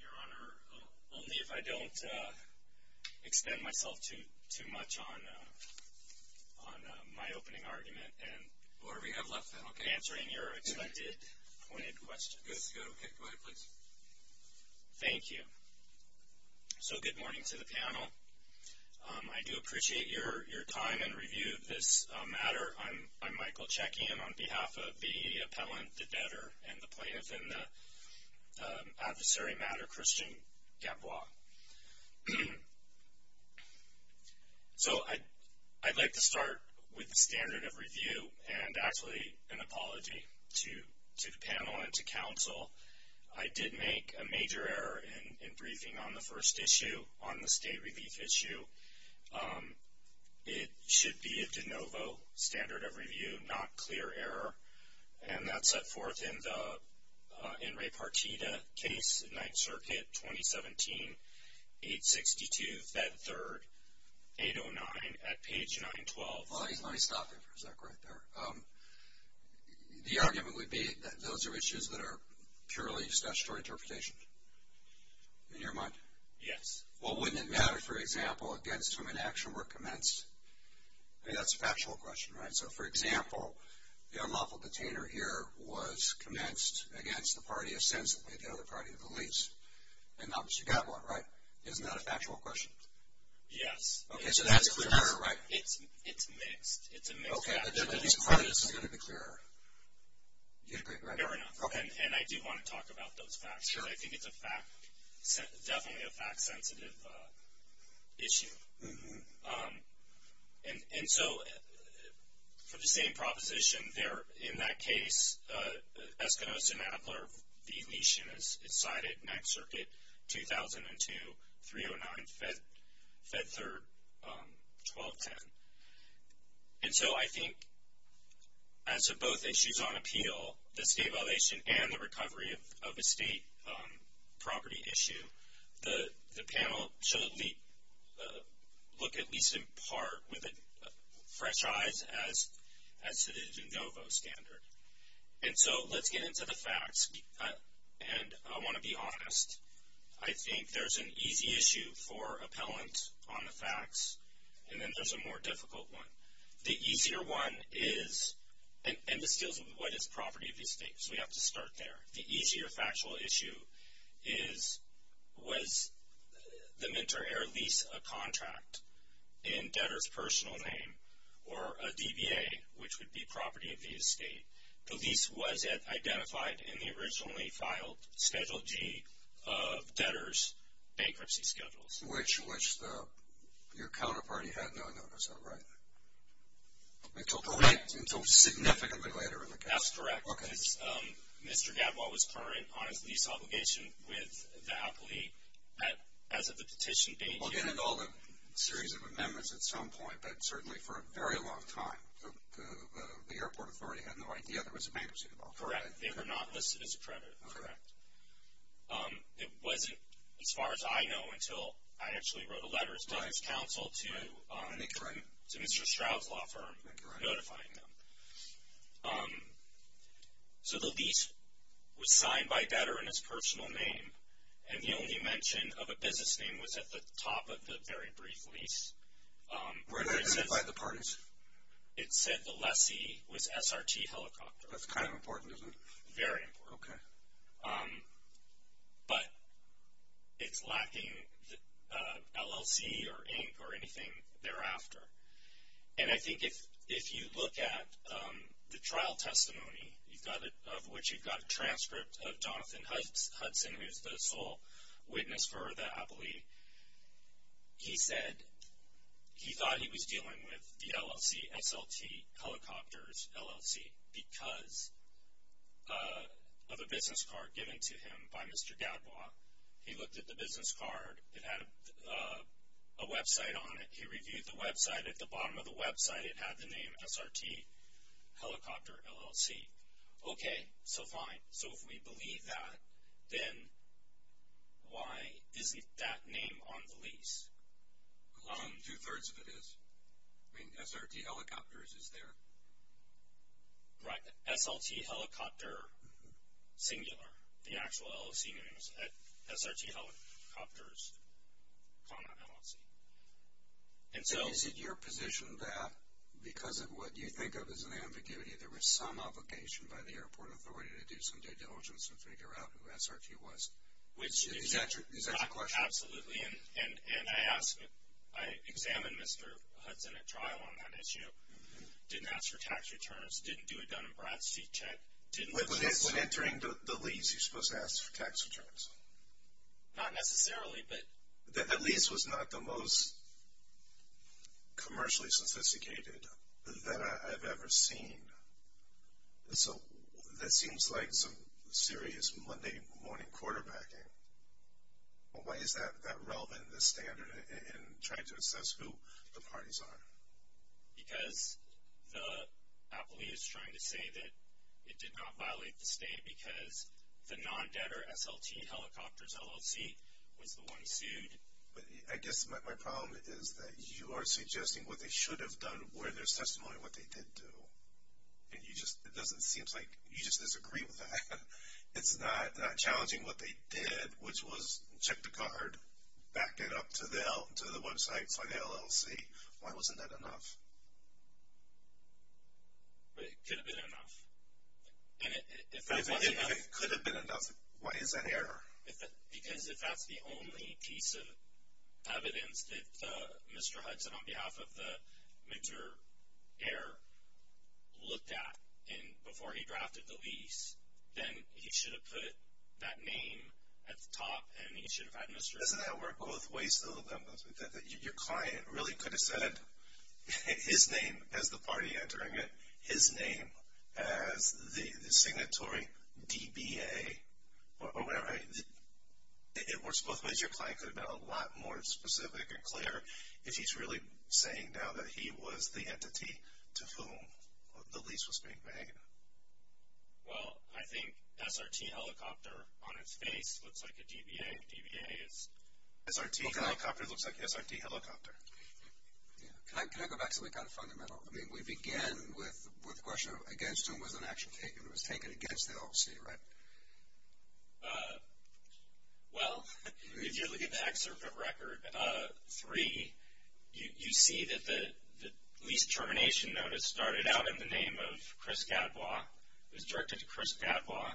Your Honor, only if I don't expend myself too much on my opening argument and whatever you have left then, okay. Answering your expected pointed questions. Yes, go ahead, please. Thank you. So good morning to the panel. I do appreciate your time and review this matter. I'm Michael Checkian on behalf of the appellant, the debtor, and the plaintiff in the adversary matter, Christian Gadbois. So I'd like to start with the standard of review and actually an apology to the panel and to counsel. I did make a major error in briefing on the first issue, on the state of the law, and that's set forth in the En Re Partida case, 9th circuit, 2017, 862, Fed 3rd, 809, at page 912. Let me stop you for a sec right there. The argument would be that those are issues that are purely statutory interpretation, in your mind? Yes. Well, wouldn't it matter, for example, against whom an action were commenced? I mean, that's container here was commenced against the party of sense, the other party of the lease. And obviously, you got one, right? Isn't that a factual question? Yes. Okay, so that's clearer, right? It's mixed. It's a mixed fact. Okay, I'm going to be clearer. Fair enough. Okay. And I do want to talk about those facts. Sure. I think it's a fact, definitely a fact sensitive issue. And so, for the same proposition there, in that case, Eskimos and Adler, the lesion is cited, 9th circuit, 2002, 309, Fed 3rd, 1210. And so, I think, as to both issues on appeal, the state violation and the recovery of estate property issue, the panel should look at least in part with fresh eyes as to the de novo standard. And so, let's get into the facts. And I want to be honest. I think there's an easy issue for appellant on the facts, and there's a more difficult one. The easier one is, and this deals with what is property of the estate, so we have to start there. The easier factual issue is, was the Minter Air lease a contract in debtor's personal name or a DBA, which would be property of the estate. The lease was identified in the originally filed Schedule G of debtor's bankruptcy schedules. Which your counterparty had no notice of, right? Correct. Until significantly later in the case. That's correct. Mr. Gadwall was current on his lease obligation with the appellee as of the petition date. Well, he had all the series of amendments at some point, but certainly for a very long time. The airport authority had no idea there was a bankruptcy involved. Correct. They were not listed as a predator. Correct. It wasn't, as far as I know, until I actually wrote a letter as debtor's counsel to Mr. Stroud's law firm. Correct. Notifying them. So the lease was signed by debtor in his personal name, and the only mention of a business name was at the top of the very brief lease. Where did that identify the parties? It said the lessee was SRT Helicopter. That's kind of important, isn't it? Very important. Okay. But it's lacking LLC or ink or anything thereafter. And I think if you look at the trial testimony of which you've got a transcript of Jonathan Hudson, who's the sole witness for the appellee, he said he thought he was dealing with the LLC, the SLT Helicopters LLC, because of a business card given to him by Mr. Gadbois. He looked at the business card. It had a website on it. He reviewed the website. At the bottom of the website, it had the name SRT Helicopter LLC. Okay. So fine. So if we believe that, then why isn't that name on the lease? Two-thirds of it is. I mean, SRT Helicopters is there. Right. SLT Helicopter, singular. The actual LLC name is SRT Helicopters, comma, LLC. So is it your position that because of what you think of as an ambiguity, there was some obligation by the airport authority to do some due diligence and figure out who SRT was? Is that your question? Absolutely. And I asked, I examined Mr. Hudson at trial on that issue. Didn't ask for tax returns. Didn't do a Dun & Bradstreet check. When entering the lease, you're supposed to ask for tax returns. Not necessarily, but... That lease was not the most commercially sophisticated that I've ever seen. So that seems like some serious Monday morning quarterbacking. Why is that relevant in this standard in trying to assess who the parties are? Because the appellee is trying to say that it did not violate the state because the non-debtor SLT Helicopters LLC was the one sued. But I guess my problem is that you are suggesting what they should have done, where their testimony, what they did do. And you just, it doesn't seem like, you just disagree with that. It's not challenging what they did, which was check the card, back it up to the websites like the LLC. Why wasn't that enough? But it could have been enough. And if that wasn't enough... If it could have been enough, why is that error? Because if that's the only piece of evidence that Mr. Hudson, on behalf of the mentor heir, looked at before he drafted the lease, then he should have put that name at the top and he should have had Mr.... Doesn't that work both ways though? Your client really could have said his name as the party entering it, his name as the signatory DBA, or whatever. It works both ways. I guess your client could have been a lot more specific and clear if he's really saying now that he was the entity to whom the lease was being made. Well, I think SRT Helicopter on its face looks like a DBA. DBA is... SRT Helicopter looks like SRT Helicopter. Can I go back to something kind of fundamental? I mean, we began with the question of against whom was an action taken. It was taken against the LLC, right? Well, if you look at the excerpt of Record 3, you see that the lease termination notice started out in the name of Chris Gadbois, it was directed to Chris Gadbois,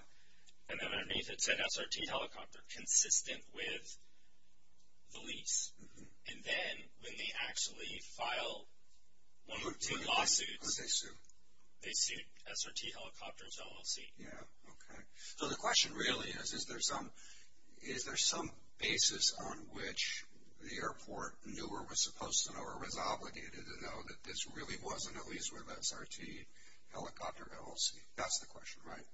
and then underneath it said SRT Helicopter, consistent with the lease. And then when they actually filed one or two lawsuits... Who did they sue? They sued SRT Helicopter's LLC. Yeah, okay. So the question really is, is there some basis on which the airport knew or was supposed to know or was obligated to know that this really wasn't a lease with SRT Helicopter LLC? That's the question, right?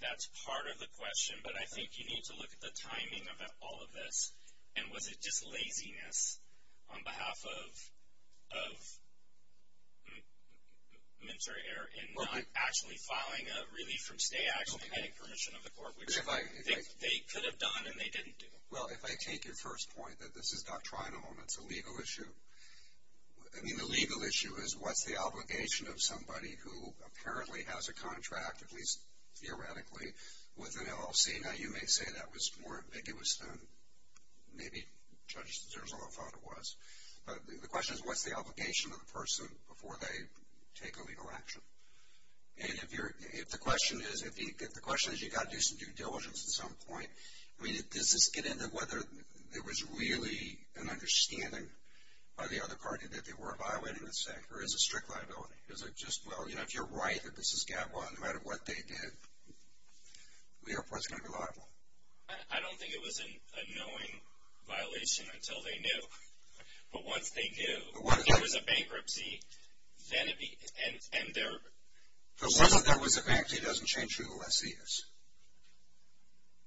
That's part of the question, but I think you need to look at the timing of all of this, and was it just laziness on behalf of MNSERA Air in not actually filing a Relief from Stay action and getting permission of the court, which they could have done and they didn't do? Well, if I take your first point that this is doctrinal and it's a legal issue, I mean the legal issue is what's the obligation of somebody who apparently has a contract, at least theoretically, with an LLC? Now, you may say that was more ambiguous than maybe Judge D'Souza thought it was, but the question is what's the obligation of the person before they take a legal action? And if the question is you've got to do some due diligence at some point, I mean does this get into whether there was really an understanding by the other party that they were evaluating the sector, or is it strict liability? Is it just, well, you know, if you're right that this is GABA, no matter what they did, the Air Force is going to be liable. I don't think it was a knowing violation until they knew. But once they knew, if there was a bankruptcy, then it would be... So once there was a bankruptcy, it doesn't change who the lessee is,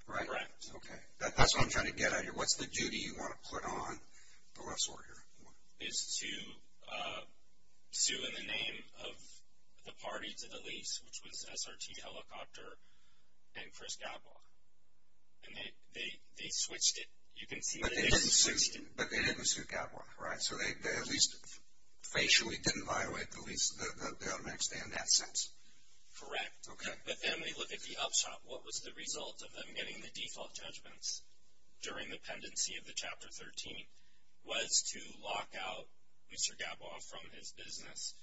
right? Correct. Okay, that's what I'm trying to get at here. What's the duty you want to put on the lessor here? It's to sue in the name of the party to the lease, which was SRT Helicopter and Chris Gabwa. And they switched it. You can see that they switched it. But they didn't sue Gabwa, right? So they at least facially didn't violate the lease the next day in that sense. Correct. Okay. But then we look at the upshot. What was the result of them getting the default judgments during the pendency of the Chapter 13 was to lock out Mr. Gabwa from his business.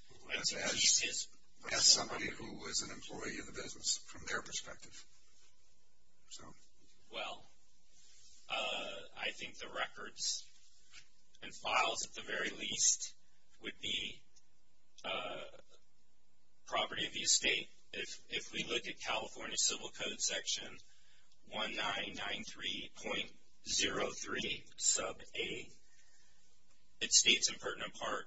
As somebody who was an employee in the business from their perspective. Well, I think the records and files at the very least would be property of the estate. If we look at California Civil Code Section 1993.03 sub 8, it states in pertinent part,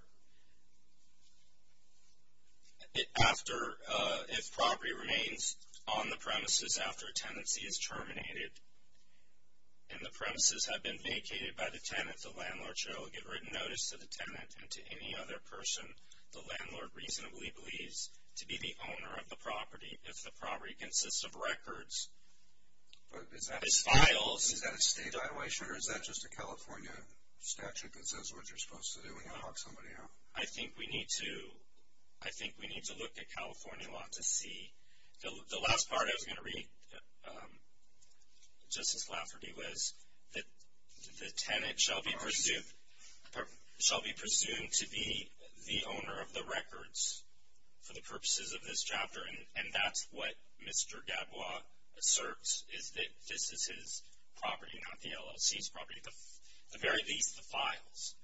if property remains on the premises after a tenancy is terminated and the premises have been vacated by the tenant, the landlord shall give written notice to the tenant and to any other person the landlord reasonably believes to be the owner of the property. If the property consists of records as files. Is that a state violation or is that just a California statute that says what you're supposed to do when you lock somebody out? I think we need to look at California law to see. The last part I was going to read, Justice Lafferty, was that the tenant shall be presumed to be the owner of the records for the purposes of this chapter. And that's what Mr. Gabwa asserts is that this is his property, not the LLC's property. At the very least, the files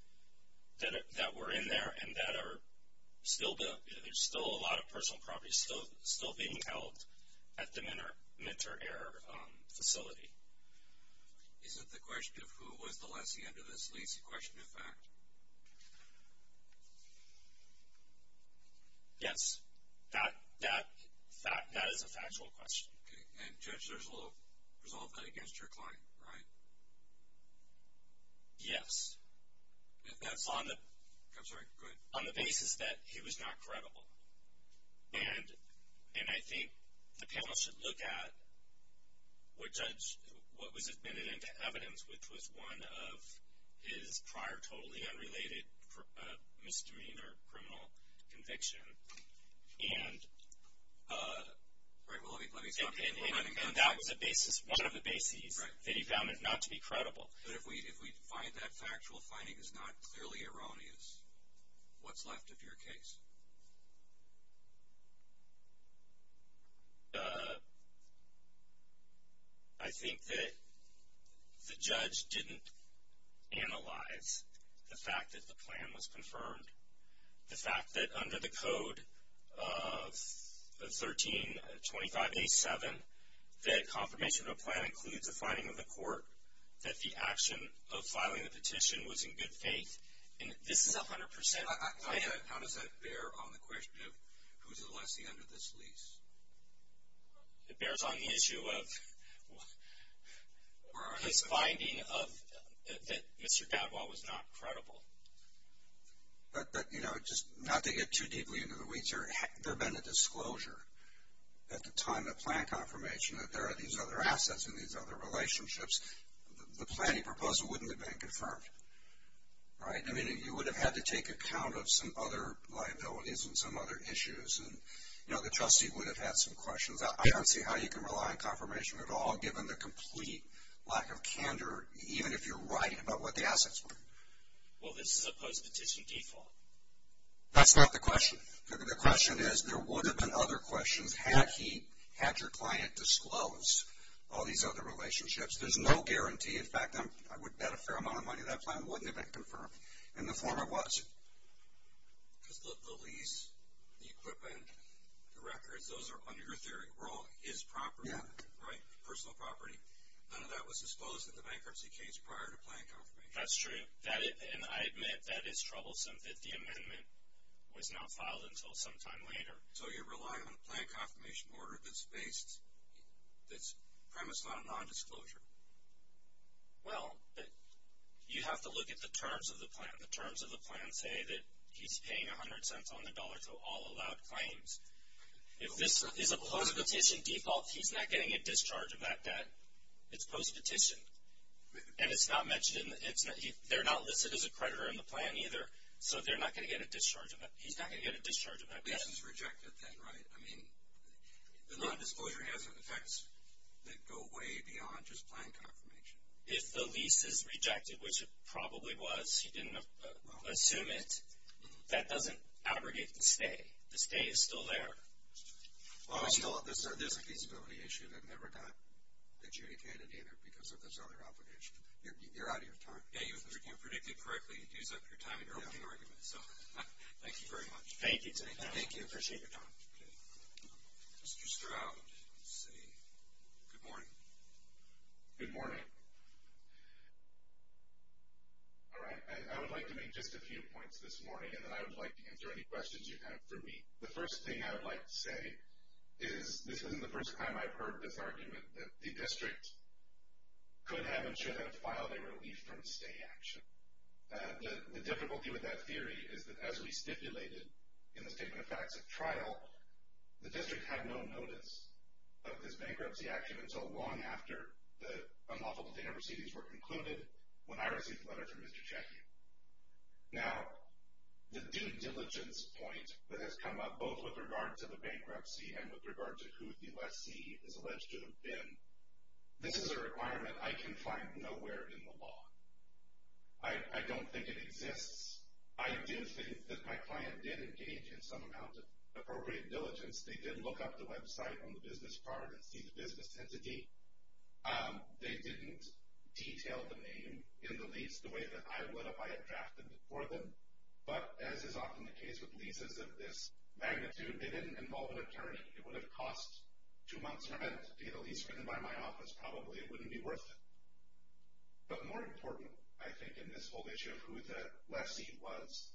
that were in there and that are still built. There's still a lot of personal property still being held at the Mentor Air facility. Is it the question of who was the lessee under this lease? A question of fact? Yes. That is a factual question. Okay. And Judge, there's a little result of that against your client, right? Yes. That's on the basis that he was not credible. And I think the panel should look at what was admitted into evidence, which was one of his prior totally unrelated misdemeanor criminal conviction. And that was one of the bases that he found not to be credible. But if we find that factual finding is not clearly erroneous, what's left of your case? I think that the judge didn't analyze the fact that the plan was confirmed. The fact that under the code of 1325A7, that confirmation of a plan includes a finding of the court that the action of filing the petition was in good faith. And this is 100% the case. How does that bear on the question of who's the lessee under this lease? It bears on the issue of his finding that Mr. Dadwell was not credible. But, you know, just not to get too deeply into the weeds here, if there had been a disclosure at the time of plan confirmation that there are these other assets and these other relationships, the planning proposal wouldn't have been confirmed, right? I mean, you would have had to take account of some other liabilities and some other issues. You know, the trustee would have had some questions. I don't see how you can rely on confirmation at all, given the complete lack of candor, even if you're right about what the assets were. Well, this is a post-petition default. That's not the question. The question is, there would have been other questions had he had your client disclose all these other relationships. There's no guarantee. In fact, I would bet a fair amount of money that plan wouldn't have been confirmed, and the former was. Because the lease, the equipment, the records, those are, under your theory, wrong. His property, right, personal property, none of that was disclosed in the bankruptcy case prior to plan confirmation. That's true. And I admit that it's troublesome that the amendment was not filed until some time later. So you're relying on a plan confirmation order that's premised on a nondisclosure? Well, you have to look at the terms of the plan. The terms of the plan say that he's paying 100 cents on the dollar to all allowed claims. If this is a post-petition default, he's not getting a discharge of that debt. It's post-petition. And it's not mentioned, they're not listed as a creditor in the plan either, so they're not going to get a discharge of that, he's not going to get a discharge of that debt. Lease is rejected then, right? I mean, the nondisclosure has effects that go way beyond just plan confirmation. If the lease is rejected, which it probably was, he didn't assume it, that doesn't abrogate the stay. The stay is still there. There's a feasibility issue that never got a jury candidate either because of this other obligation. You're out of your time. Yeah, you predicted correctly. You used up your time in your opening argument, so thank you very much. Thank you. Appreciate your time. Mr. Stroud, let's see. Good morning. Good morning. All right, I would like to make just a few points this morning, and then I would like to answer any questions you have for me. The first thing I would like to say is this isn't the first time I've heard this argument, that the district could have and should have filed a relief from stay action. The difficulty with that theory is that as we stipulated in the Statement of Facts at trial, the district had no notice of this bankruptcy action until long after the unlawful data receipts were concluded, when I received the letter from Mr. Chackie. Now, the due diligence point that has come up both with regard to the bankruptcy and with regard to who the lessee is alleged to have been, this is a requirement I can find nowhere in the law. I don't think it exists. I do think that my client did engage in some amount of appropriate diligence. They did look up the website on the business card and see the business entity. They didn't detail the name in the lease the way that I would if I had drafted it for them. But as is often the case with leases of this magnitude, they didn't involve an attorney. It would have cost two months for them to get a lease written by my office probably. It wouldn't be worth it. But more important, I think, in this whole issue of who the lessee was,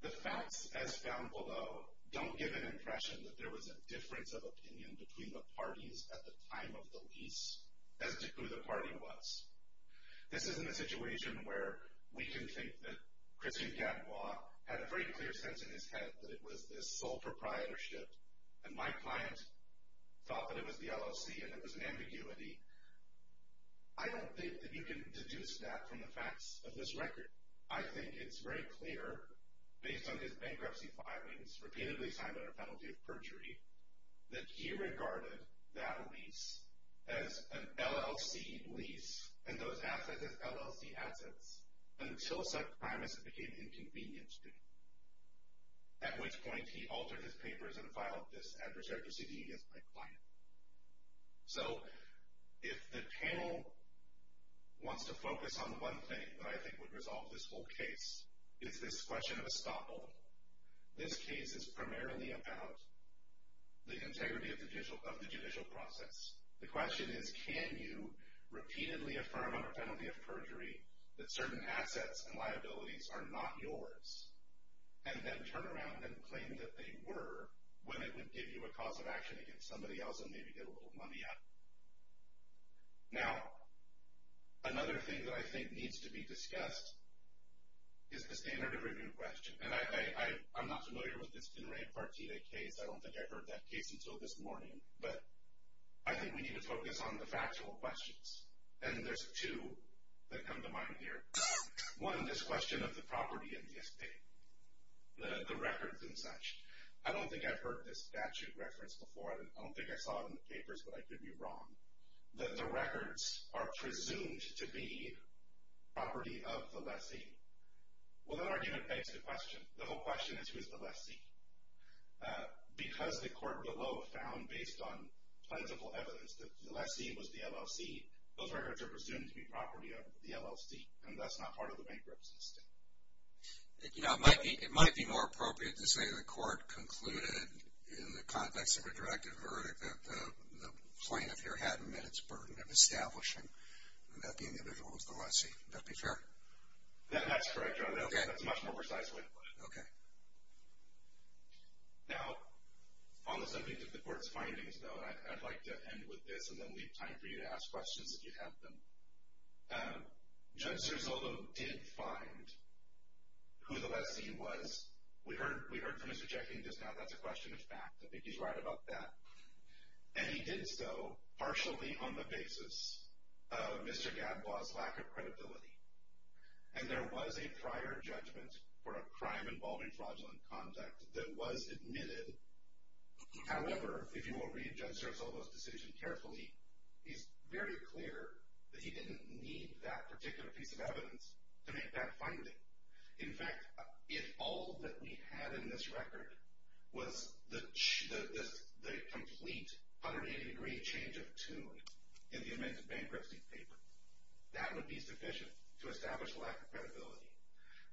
the facts as found below don't give an impression that there was a difference of opinion between the parties at the time of the lease as to who the party was. This isn't a situation where we can think that Christian Cadmois had a very clear sense in his head that it was this sole proprietorship and my client thought that it was the LLC and it was an ambiguity. I don't think that you can deduce that from the facts of this record. I think it's very clear, based on his bankruptcy filings, repeatedly signed under penalty of perjury, that he regarded that lease as an LLC lease and those assets as LLC assets until such time as it became inconvenient to him, at which point he altered his papers and filed this adversarial proceeding against my client. So if the panel wants to focus on one thing that I think would resolve this whole case, it's this question of estoppel. This case is primarily about the integrity of the judicial process. The question is, can you repeatedly affirm under penalty of perjury that certain assets and liabilities are not yours and then turn around and claim that they were when it would give you a cause of action against somebody else and maybe get a little money out of them? Now, another thing that I think needs to be discussed is the standard of review question. And I'm not familiar with this Dinray Partita case. I don't think I've heard that case until this morning. But I think we need to focus on the factual questions. And there's two that come to mind here. One, this question of the property and the estate, the records and such. I don't think I've heard this statute referenced before. I don't think I saw it in the papers, but I could be wrong. That the records are presumed to be property of the lessee. Well, that argument begs the question. The whole question is, who is the lessee? Because the court below found, based on plentiful evidence, that the lessee was the LLC, those records are presumed to be property of the LLC, and thus not part of the bankruptcy estate. You know, it might be more appropriate to say the court concluded in the context of a directive verdict that the plaintiff here hadn't met its burden of establishing that the individual was the lessee. That be fair? That's correct. Okay. That's a much more precise way to put it. Okay. Now, on the subject of the court's findings, though, I'd like to end with this and then leave time for you to ask questions if you have them. Judge Serzolo did find who the lessee was. We heard from Mr. Jackie just now that's a question of fact. I think he's right about that. And he did so partially on the basis of Mr. Gadbois' lack of credibility. And there was a prior judgment for a crime involving fraudulent conduct that was admitted. However, if you will read Judge Serzolo's decision carefully, he's very clear that he didn't need that particular piece of evidence to make that finding. In fact, if all that we had in this record was the complete 180-degree change of tune in the amended bankruptcy paper, that would be sufficient to establish a lack of credibility.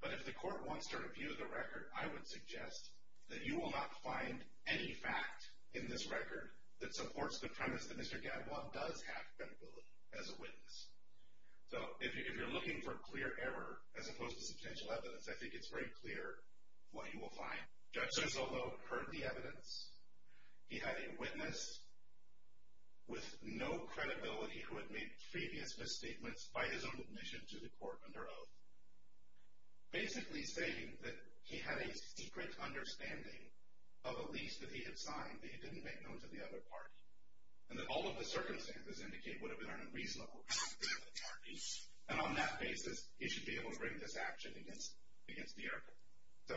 But if the court wants to review the record, I would suggest that you will not find any fact in this record that supports the premise that Mr. Gadbois does have credibility as a witness. So if you're looking for clear error as opposed to substantial evidence, I think it's very clear what you will find. Judge Serzolo heard the evidence. He had a witness with no credibility who had made previous misstatements by his own admission to the court under oath, basically saying that he had a secret understanding of a lease that he had signed that he didn't make known to the other party and that all of the circumstances indicate would have been on a reasonable basis. And on that basis, he should be able to bring this action against the article. So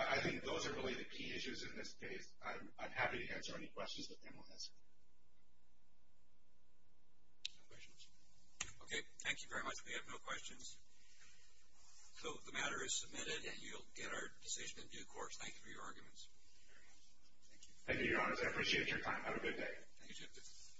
I think those are really the key issues in this case. I'm happy to answer any questions that anyone has. No questions? Okay. Thank you very much. We have no questions. So the matter is submitted, and you'll get our decision in due course. Thank you very much. Thank you. Thank you, Your Honor. I appreciate your time. Have a good day. Thank you, Judge.